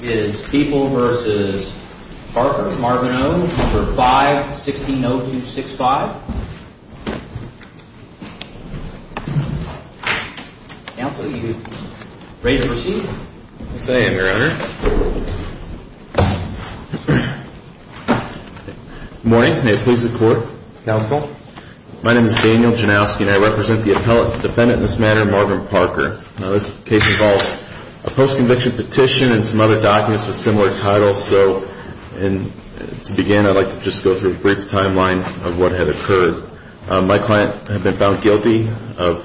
is People v. Parker, Margarineau, 5-160-265. Counsel, you are ready to proceed. Yes, I am, Your Honor. Good morning. May it please the Court? Counsel? My name is Daniel Janowski and I represent the appellate defendant in this matter, Margaret Parker. Now, this case involves a post-conviction petition and some other documents with similar titles. So, to begin, I'd like to just go through a brief timeline of what had occurred. My client had been found guilty of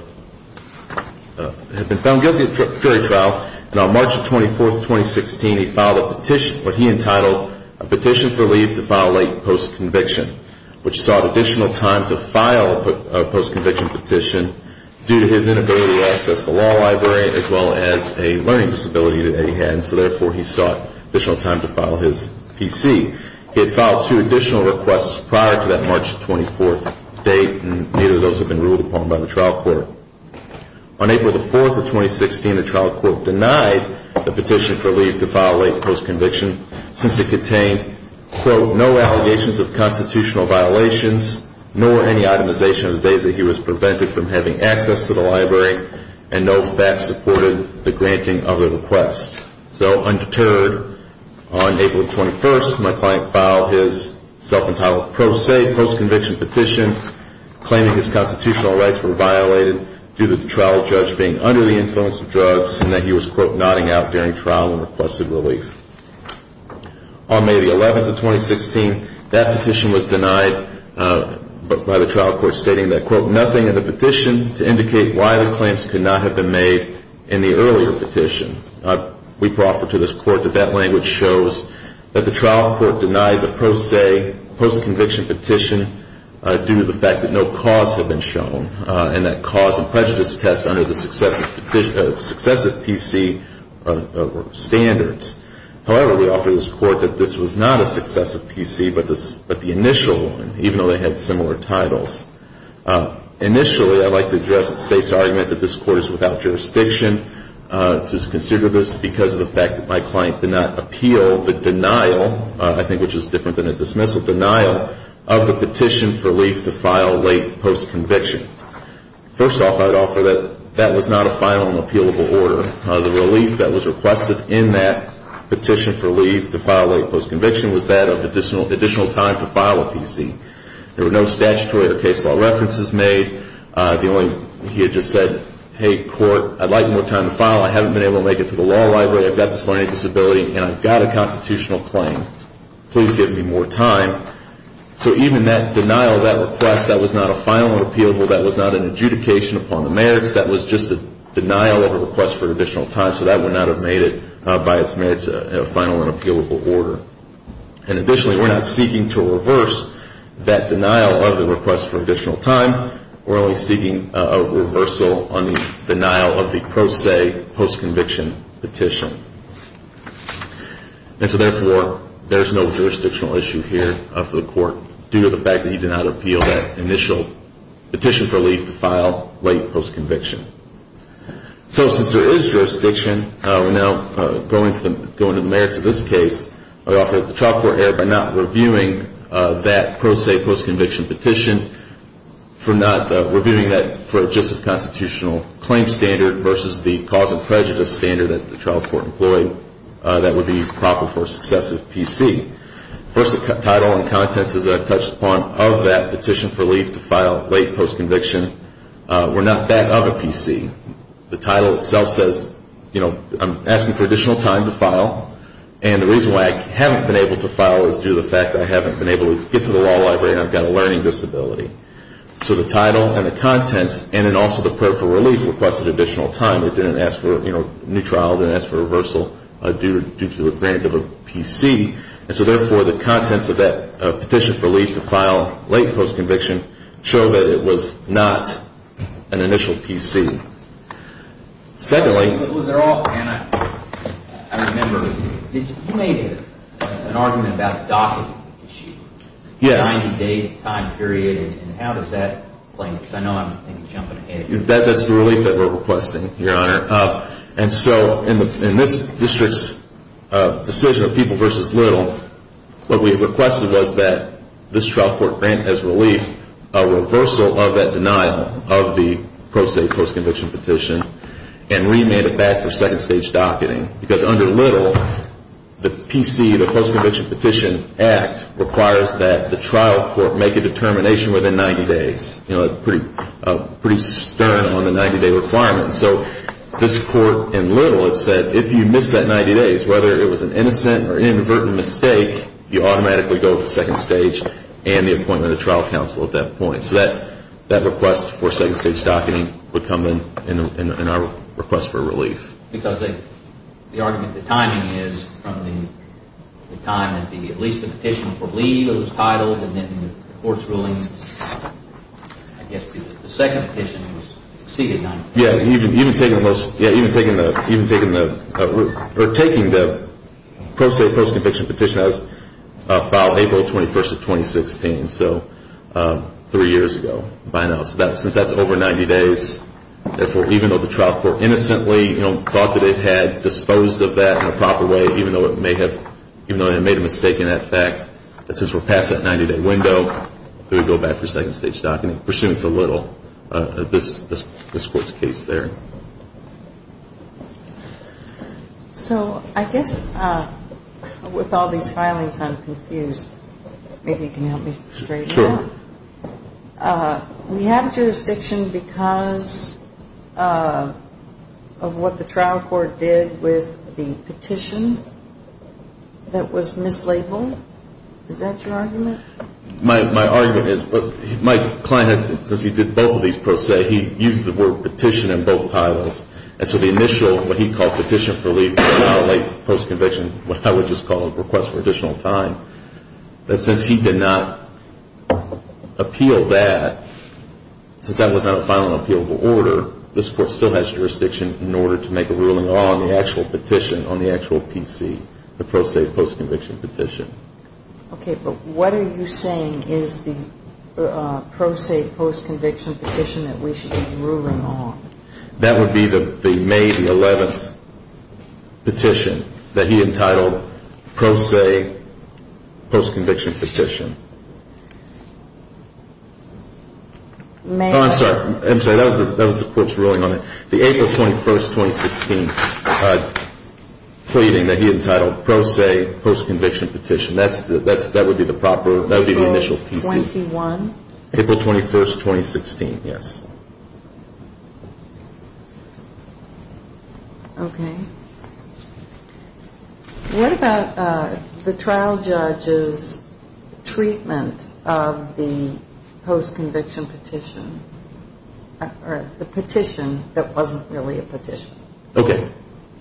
jury trial. And on March 24, 2016, he filed what he entitled a petition for leave to file late post-conviction, which sought additional time to file a post-conviction petition due to his inability to access the law library, as well as a learning disability that he had. And so, therefore, he sought additional time to file his PC. He had filed two additional requests prior to that March 24 date, and neither of those had been ruled upon by the trial court. On April 4, 2016, the trial court denied the petition for leave to file late post-conviction, since it contained, quote, no allegations of constitutional violations, nor any itemization of the days that he was prevented from having access to the library, and no facts supported the granting of the request. So, undeterred, on April 21, my client filed his self-entitled pro se post-conviction petition, claiming his constitutional rights were violated due to the trial judge being under the influence of drugs, and that he was, quote, nodding out during trial and requested relief. On May 11, 2016, that petition was denied by the trial court, stating that, quote, nothing in the petition to indicate why the claims could not have been made in the earlier petition. We proffer to this court that that language shows that the trial court denied the pro se post-conviction petition due to the fact that no cause had been shown, and that cause and prejudice tests under the successive PC standards. However, we offer this court that this was not a successive PC, but the initial one, even though they had similar titles. Initially, I'd like to address the State's argument that this Court is without jurisdiction to consider this, because of the fact that my client did not appeal the denial, I think which is different than a dismissal, denial of the petition for relief to file late post-conviction. First off, I'd offer that that was not a final and appealable order. The relief that was requested in that petition for relief to file late post-conviction was that of additional time to file a PC. There were no statutory or case law references made. The only, he had just said, hey, court, I'd like more time to file. I haven't been able to make it to the law library. I've got this learning disability, and I've got a constitutional claim. Please give me more time. So even that denial of that request, that was not a final and appealable. That was not an adjudication upon the merits. That was just a denial of a request for additional time. So that would not have made it by its merits a final and appealable order. And additionally, we're not seeking to reverse that denial of the request for additional time. We're only seeking a reversal on the denial of the pro se post-conviction petition. And so therefore, there's no jurisdictional issue here for the court due to the fact that he did not appeal that initial petition for relief to file late post-conviction. So since there is jurisdiction, we're now going to the merits of this case. I offer that the trial court err by not reviewing that pro se post-conviction petition, for not reviewing that for just a constitutional claim standard versus the cause and prejudice standard that the trial court employed that would be proper for a successive PC. First, the title and contents as I've touched upon of that petition for relief to file late post-conviction were not that of a PC. The title itself says, you know, I'm asking for additional time to file. And the reason why I haven't been able to file is due to the fact that I haven't been able to get to the law library and I've got a learning disability. So the title and the contents and then also the prayer for relief requested additional time. It didn't ask for, you know, new trial. It didn't ask for reversal due to the grant of a PC. And so therefore, the contents of that petition for relief to file late post-conviction show that it was not an initial PC. Secondly... But was there also, and I remember, you made an argument about the docket issue. Yes. The 90-day time period and how does that play? Because I know I'm jumping ahead. That's the relief that we're requesting, Your Honor. And so in this district's decision of people versus little, what we requested was that this trial court grant as relief a reversal of that denial of the pro se post-conviction. And we made it back for second stage docketing. Because under little, the PC, the post-conviction petition act, requires that the trial court make a determination within 90 days. You know, a pretty stern on the 90-day requirement. So this court in little, it said, if you miss that 90 days, whether it was an innocent or inadvertent mistake, you automatically go to second stage and the appointment of trial counsel at that point. So that request for second stage docketing would come in our request for relief. Because the argument, the timing is from the time that at least the petition for leave was titled and then the court's ruling, I guess the second petition was exceeded 90 days. Yeah, even taking the post-conviction petition, that was filed April 21st of 2016. So three years ago by now. So since that's over 90 days, even though the trial court innocently thought that it had disposed of that in a proper way, even though it made a mistake in that fact, that since we're past that 90-day window, do we go back for second stage docketing? We're assuming it's a little, this court's case there. So I guess with all these filings, I'm confused. Maybe you can help me straight out. Sure. We have jurisdiction because of what the trial court did with the petition that was mislabeled. Is that your argument? My argument is, but my client, since he did both of these pro se, he used the word petition in both titles. And so the initial, what he called petition for leave filed late post-conviction, what I would just call a request for additional time. But since he did not appeal that, since that was not a filing appealable order, this court still has jurisdiction in order to make a ruling on the actual petition, on the actual PC, the pro se post-conviction petition. Okay, but what are you saying is the pro se post-conviction petition that we should be ruling on? That would be the May the 11th petition that he entitled pro se post-conviction petition. Oh, I'm sorry. That was the court's ruling on it. The April 21st, 2016 pleading that he entitled pro se post-conviction petition. That would be the proper, that would be the initial PC. April 21st? April 21st, 2016, yes. Okay. What about the trial judge's treatment of the post-conviction petition, or the petition that wasn't really a petition? Okay,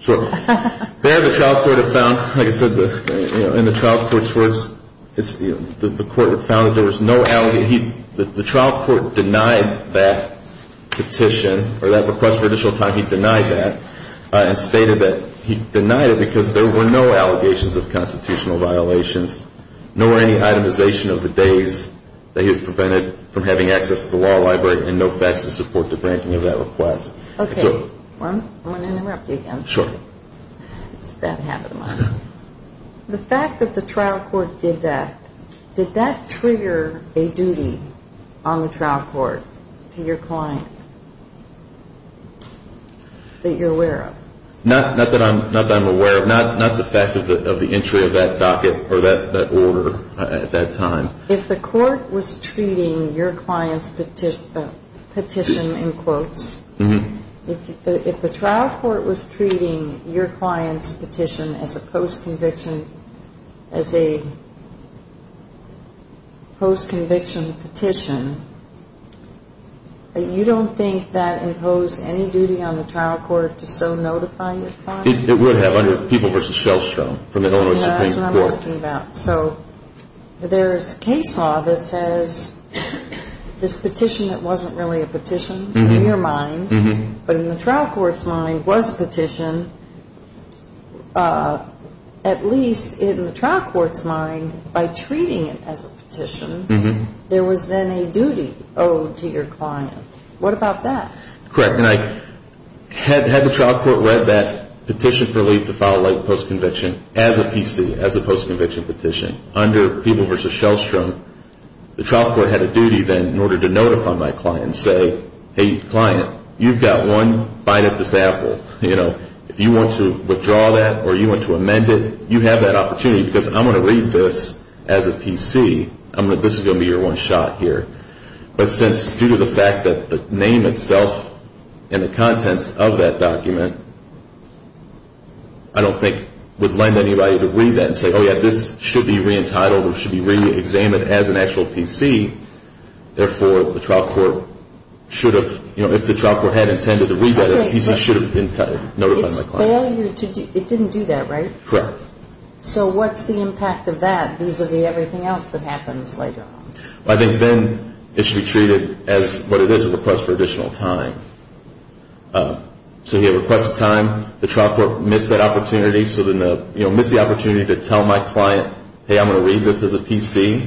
so there the trial court had found, like I said, in the trial court's words, the court had found that there was no allegation. The trial court denied that petition, or that request for additional time, he denied that. And stated that he denied it because there were no allegations of constitutional violations, nor any itemization of the days that he was prevented from having access to the law library and no facts to support the branking of that request. Okay. I'm going to interrupt you again. Sure. It's about half of the month. The fact that the trial court did that, did that trigger a duty on the trial court to your client that you're aware of? Not that I'm aware of. Not the fact of the entry of that docket or that order at that time. If the court was treating your client's petition in quotes, if the trial court was treating your client's petition as a post-conviction petition, you don't think that imposed any duty on the trial court to so notify your client? It would have under People v. Shellstrom from the Illinois Supreme Court. That's what I'm asking about. So there's case law that says this petition that wasn't really a petition in your mind, but in the trial court's mind was a petition, at least in the trial court's mind, by treating it as a petition, there was then a duty owed to your client. What about that? Correct. Had the trial court read that petition for leave to file a late post-conviction as a PC, as a post-conviction petition, under People v. Shellstrom, the trial court had a duty then in order to notify my client and say, hey, client, you've got one bite at this apple. If you want to withdraw that or you want to amend it, you have that opportunity because I'm going to read this as a PC. This is going to be your one shot here. But since due to the fact that the name itself and the contents of that document, I don't think it would lend anybody to read that and say, oh, yeah, this should be re-entitled or should be re-examined as an actual PC. Therefore, the trial court should have, you know, if the trial court had intended to read that as a PC, should have notified my client. It didn't do that, right? Correct. So what's the impact of that vis-a-vis everything else that happens later on? I think then it should be treated as what it is, a request for additional time. So he had requested time. The trial court missed that opportunity. So then, you know, missed the opportunity to tell my client, hey, I'm going to read this as a PC.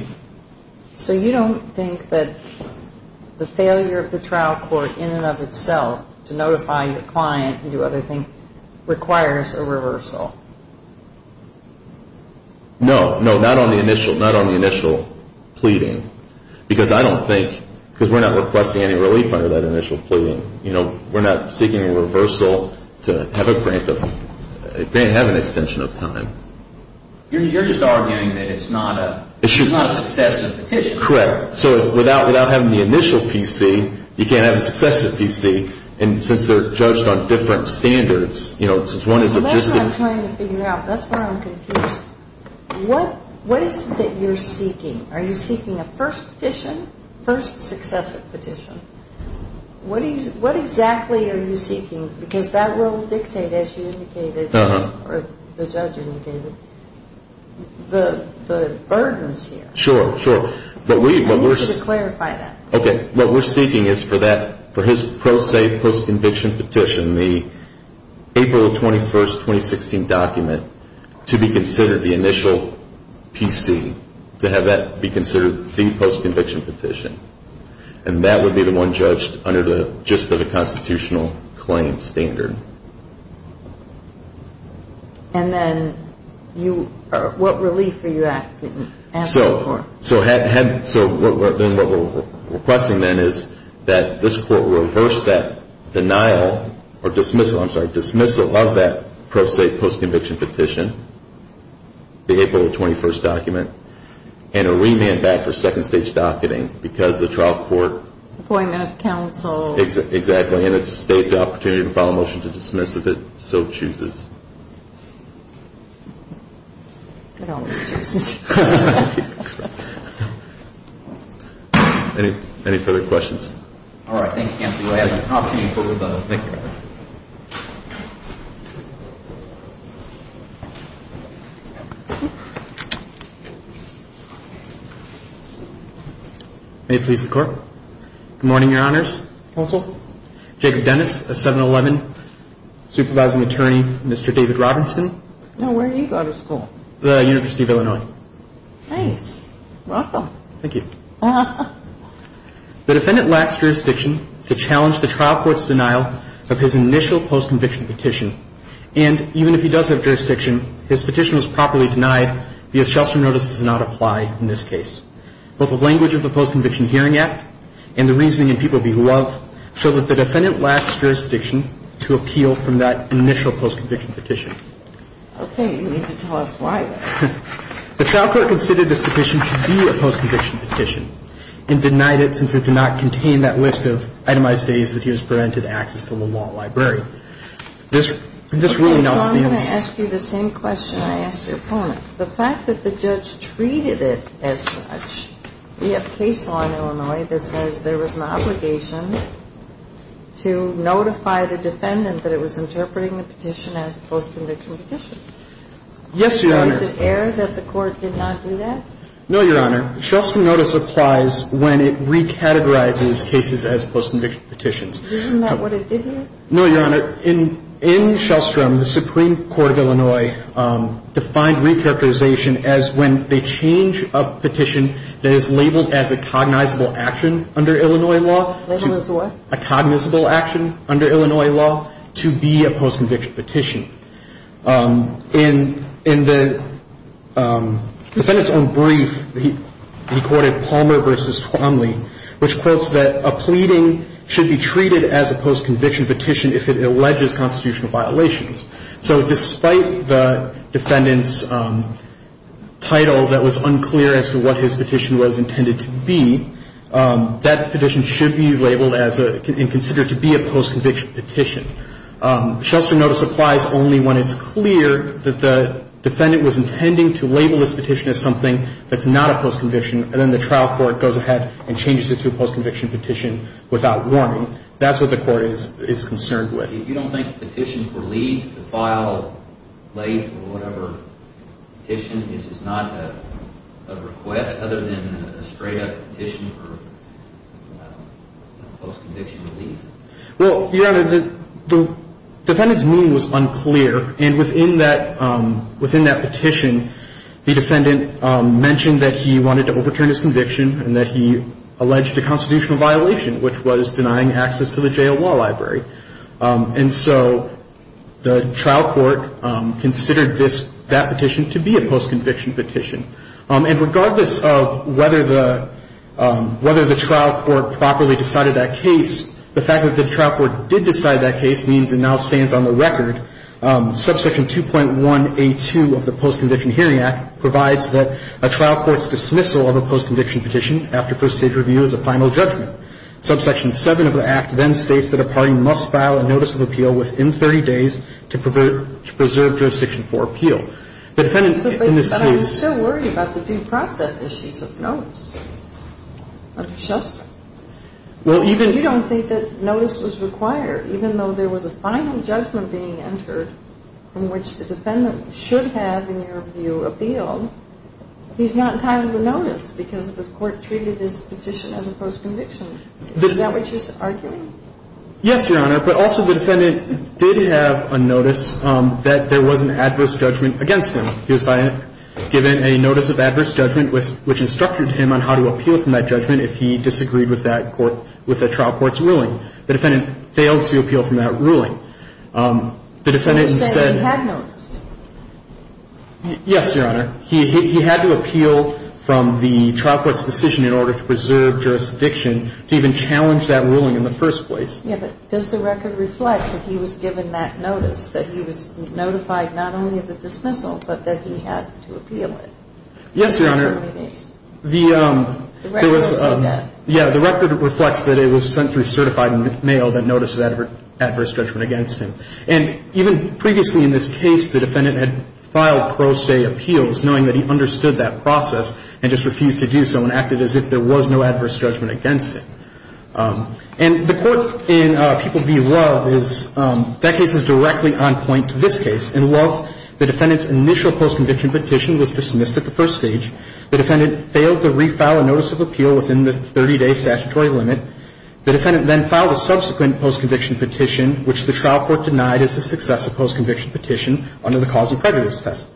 So you don't think that the failure of the trial court in and of itself to notify your client and do other things requires a reversal? No, no, not on the initial, not on the initial pleading. Because I don't think, because we're not requesting any relief under that initial pleading. You know, we're not seeking a reversal to have a grant of, grant, have an extension of time. You're just arguing that it's not a, it's not a successive petition. Correct. So without, without having the initial PC, you can't have a successive PC. And since they're judged on different standards, you know, since one is a just a. That's what I'm trying to figure out. That's why I'm confused. What, what is it that you're seeking? Are you seeking a first petition, first successive petition? What do you, what exactly are you seeking? Because that will dictate, as you indicated, or the judge indicated, the, the burdens here. Sure, sure. I need you to clarify that. Okay, what we're seeking is for that, for his pro se post-conviction petition, the April 21st, 2016 document to be considered the initial PC, to have that be considered the post-conviction petition. And that would be the one judged under the gist of a constitutional claim standard. And then you, what relief are you asking for? So, so what we're requesting then is that this court reverse that denial, or dismissal, I'm sorry, dismissal of that pro se post-conviction petition, the April 21st document, and a remand back for second stage docketing because the trial court. Appointment of counsel. Exactly. And it's state the opportunity to file a motion to dismiss if it so chooses. It always chooses. Any, any further questions? All right. Thank you. May it please the court. Good morning, your honors. Counsel. Jacob Dennis, a 7-11 supervising attorney. Mr. David Robinson. I'm sorry. I'm sorry. I'm sorry. I'm sorry. I'm sorry. I'm sorry. I'm sorry. Nice. Welcome. Thank you. The defendant lacks jurisdiction to challenge the trial court's denial of his initial post-conviction petition. And even if he does have jurisdiction, his petition was properly denied because shelter notice does not apply in this case. Both the language of the post-conviction hearing act and the reasoning in people be love show that the defendant lacks jurisdiction to appeal from that initial post-conviction petition. Okay. You need to tell us why. The trial court considered this petition to be a post-conviction petition. And denied it since it did not contain that list of itemized days that he was granted access to the law library. This really nullifies. I'm going to ask you the same question I asked your opponent. The fact that the judge treated it as such. We have case law in Illinois that says there was an obligation to notify the defendant that it was interpreting the petition as a post-conviction petition. Yes, your honors. Is it error that the court did not do that? No, your honor. Shelstrom notice applies when it re-categorizes cases as post-conviction petitions. Isn't that what it did here? No, your honor. In Shelstrom, the Supreme Court of Illinois defined re-characterization as when they change a petition that is labeled as a cognizable action under Illinois law. Labeled as what? A cognizable action under Illinois law to be a post-conviction petition. In the defendant's own brief, he quoted Palmer v. Twomley, which quotes that a pleading should be treated as a post-conviction petition if it alleges constitutional violations. So despite the defendant's title that was unclear as to what his petition was intended to be, that petition should be labeled as and considered to be a post-conviction petition. Shelstrom notice applies only when it's clear that the defendant was intending to label this petition as something that's not a post-conviction. And then the trial court goes ahead and changes it to a post-conviction petition without warning. That's what the court is concerned with. You don't think a petition for leave to file late or whatever petition is not a request other than a straight-up petition for post-conviction leave? Well, Your Honor, the defendant's meaning was unclear. And within that petition, the defendant mentioned that he wanted to overturn his conviction and that he alleged a constitutional violation, which was denying access to the jail law library. And so the trial court considered that petition to be a post-conviction petition. And regardless of whether the trial court properly decided that case, the fact that the trial court did decide that case means it now stands on the record. Subsection 2.1A2 of the Post-Conviction Hearing Act provides that a trial court's dismissal of a post-conviction petition after first-stage review is a final judgment. Subsection 7 of the Act then states that a party must file a notice of appeal within 30 days to preserve jurisdiction for appeal. The defendant in this case — But I'm still worried about the due process issues of notice, of just — Well, even — You don't think that notice was required. Even though there was a final judgment being entered from which the defendant should have, in your view, appealed, he's not entitled to notice because the court treated his petition as a post-conviction. Is that what you're arguing? Yes, Your Honor. But also, the defendant did have a notice that there was an adverse judgment against him. He was given a notice of adverse judgment which instructed him on how to appeal from that judgment if he disagreed with that court — with the trial court's ruling. The defendant failed to appeal from that ruling. The defendant instead — But you said he had notice. Yes, Your Honor. He had to appeal from the trial court's decision in order to preserve jurisdiction to even challenge that ruling in the first place. Yeah, but does the record reflect that he was given that notice, that he was notified not only of the dismissal, but that he had to appeal it? Yes, Your Honor. In 30 days. The — The record will say that. Yeah. The record reflects that it was sent through certified mail, that notice of adverse judgment against him. And even previously in this case, the defendant had filed pro se appeals knowing that he understood that process and just refused to do so and acted as if there was no adverse judgment against him. And the court in People v. Love is — that case is directly on point to this case. In Love, the defendant's initial post-conviction petition was dismissed at the first stage. The defendant failed to refile a notice of appeal within the 30-day statutory limit. The defendant then filed a subsequent post-conviction petition, which the trial court denied as a successful post-conviction petition under the Cause of Prejudice test.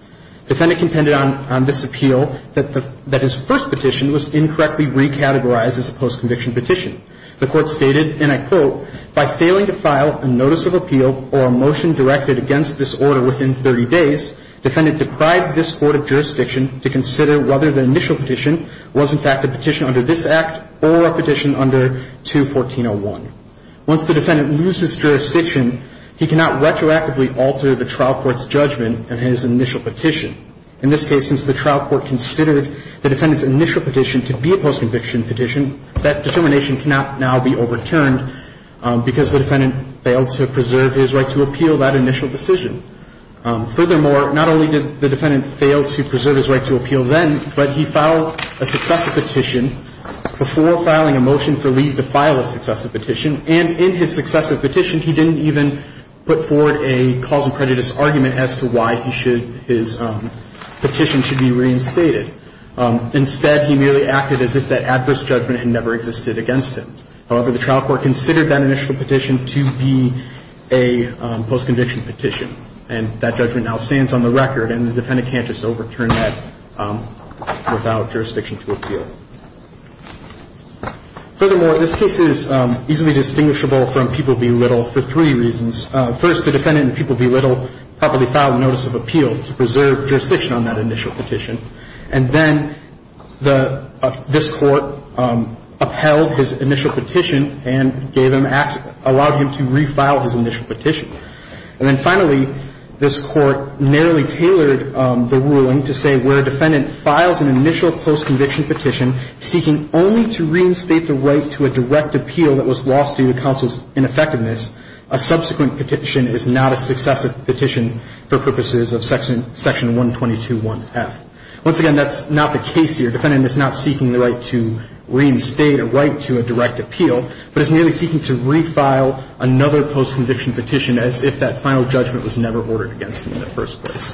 The defendant contended on this appeal that his first petition was incorrectly recategorized as a post-conviction petition. The court stated, and I quote, Once the defendant loses jurisdiction, he cannot retroactively alter the trial court's judgment in his initial petition. In this case, since the trial court considered the defendant's initial petition to be a post-conviction petition, that determination cannot now be overturned. The trial court's decision to dismiss the defendant's initial post-conviction petition, which the trial court denied as a successful post-conviction petition, because the defendant failed to preserve his right to appeal that initial decision. Furthermore, not only did the defendant fail to preserve his right to appeal then, but he filed a successive petition before filing a motion for leave to file a successive petition. And in his successive petition, he didn't even put forward a Cause of Prejudice argument as to why he should his petition should be reinstated. Instead, he merely acted as if that adverse judgment had never existed against him. However, the trial court considered that initial petition to be a post-conviction petition, and that judgment now stands on the record, and the defendant can't just overturn that without jurisdiction to appeal. Furthermore, this case is easily distinguishable from People v. Little for three reasons. First, the defendant in People v. Little properly filed a notice of appeal to preserve jurisdiction on that initial petition. And then this Court upheld his initial petition and allowed him to refile his initial petition. And then finally, this Court narrowly tailored the ruling to say where a defendant files an initial post-conviction petition seeking only to reinstate the right to a direct appeal that was lost due to counsel's ineffectiveness, a subsequent petition is not a successive petition for purposes of Section 122.1f. Once again, that's not the case here. The defendant is not seeking the right to reinstate a right to a direct appeal, but is merely seeking to refile another post-conviction petition as if that final judgment was never ordered against him in the first place.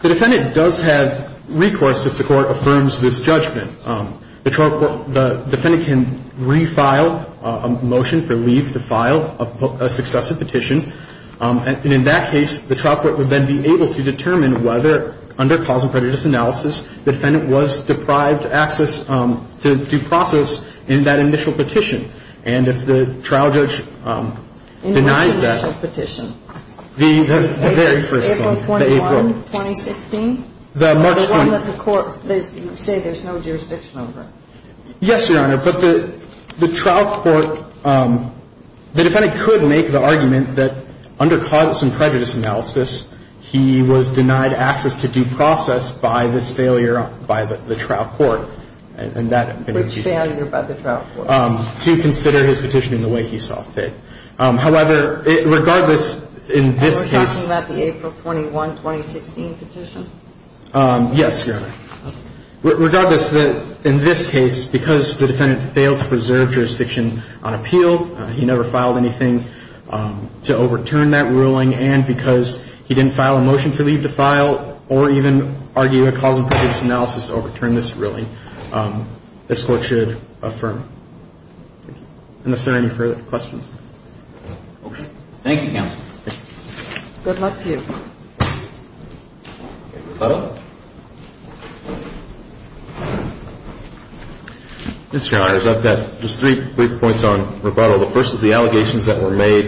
The defendant does have recourse if the Court affirms this judgment. The defendant can refile a motion for leave to file a successive petition. And in that case, the trial court would then be able to determine whether, under causal prejudice analysis, the defendant was deprived access to due process in that initial petition. And if the trial judge denies that. In which initial petition? The very first one. April 21, 2016? The March 21. And let the Court say there's no jurisdiction over it. Yes, Your Honor. But the trial court, the defendant could make the argument that under causal prejudice analysis, he was denied access to due process by this failure by the trial court. Which failure by the trial court? To consider his petition in the way he saw fit. However, regardless, in this case. Are we talking about the April 21, 2016 petition? Yes, Your Honor. Okay. Regardless, in this case, because the defendant failed to preserve jurisdiction on appeal, he never filed anything to overturn that ruling. And because he didn't file a motion for leave to file or even argue a causal prejudice analysis to overturn this ruling, this Court should affirm. Thank you. Unless there are any further questions. Okay. Thank you, counsel. Good luck to you. Rebuttal? Mr. Your Honor, I've got just three brief points on rebuttal. The first is the allegations that were made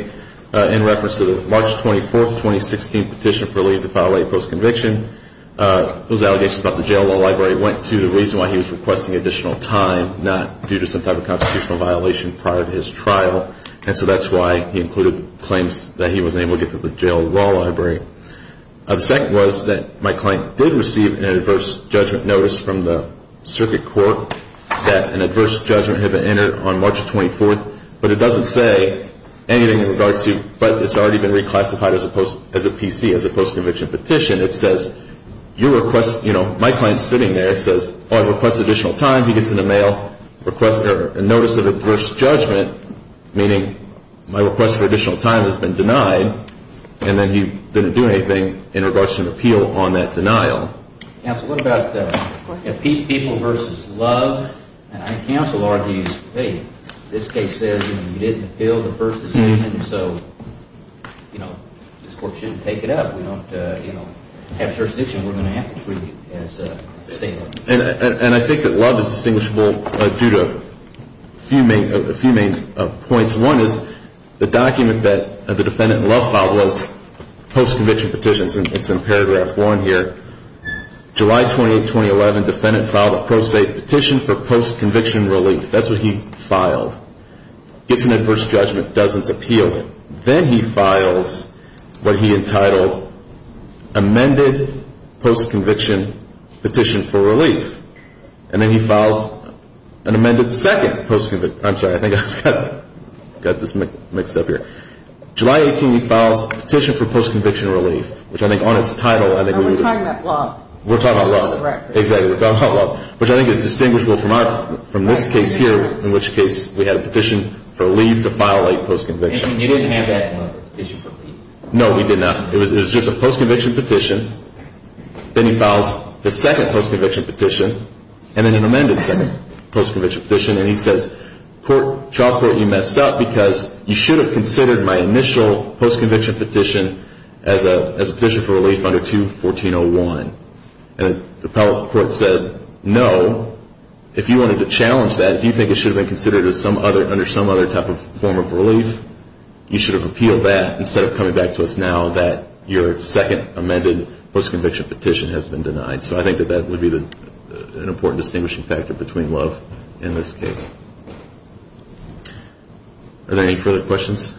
in reference to the March 24, 2016 petition for leave to file a post-conviction. Those allegations about the jail law library went to the reason why he was requesting additional time, not due to some type of constitutional violation prior to his trial. And so that's why he included claims that he was able to get to the jail law library. The second was that my client did receive an adverse judgment notice from the circuit court that an adverse judgment had been entered on March 24. But it doesn't say anything in regards to, but it's already been reclassified as a PC, as a post-conviction petition. It says, you request, you know, my client's sitting there. It says, oh, I request additional time. He gets in the mail, requests a notice of adverse judgment, meaning my request for additional time has been denied. And then he didn't do anything in regards to an appeal on that denial. Counsel, what about people versus love? And I think counsel argues, hey, this case says you didn't appeal the first decision, so, you know, this court shouldn't take it up. We don't, you know, have jurisdiction. We're going to have to treat it as a statement. And I think that love is distinguishable due to a few main points. One is the document that the defendant in love filed was post-conviction petitions, and it's in paragraph 1 here. July 28, 2011, defendant filed a pro se petition for post-conviction relief. That's what he filed. Gets an adverse judgment, doesn't appeal it. Then he files what he entitled amended post-conviction petition for relief. And then he files an amended second post-conviction. I'm sorry. I think I've got this mixed up here. July 18, he files a petition for post-conviction relief, which I think on its title. And we're talking about love. We're talking about love. Exactly. We're talking about love, which I think is distinguishable from this case here, in which case we had a petition for relief to file a post-conviction. And you didn't have that in the petition for relief. No, we did not. It was just a post-conviction petition. Then he files the second post-conviction petition and then an amended second post-conviction petition. And he says, Job Court, you messed up because you should have considered my initial post-conviction petition as a petition for relief under 214.01. And the appellate court said, No, if you wanted to challenge that, if you think it should have been considered under some other type of form of relief, you should have repealed that instead of coming back to us now that your second amended post-conviction petition has been denied. So I think that that would be an important distinguishing factor between love and this case. Are there any further questions?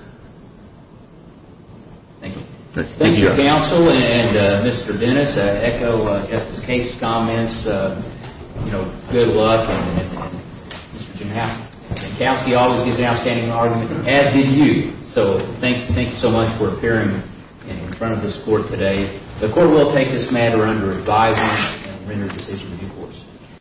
Thank you. Thank you, counsel and Mr. Dennis. I echo Justice Kate's comments. You know, good luck. And Mr. Jankowski always gives an outstanding argument, as do you. So thank you so much for appearing in front of this court today. The court will take this matter under revising and render a decision in due course.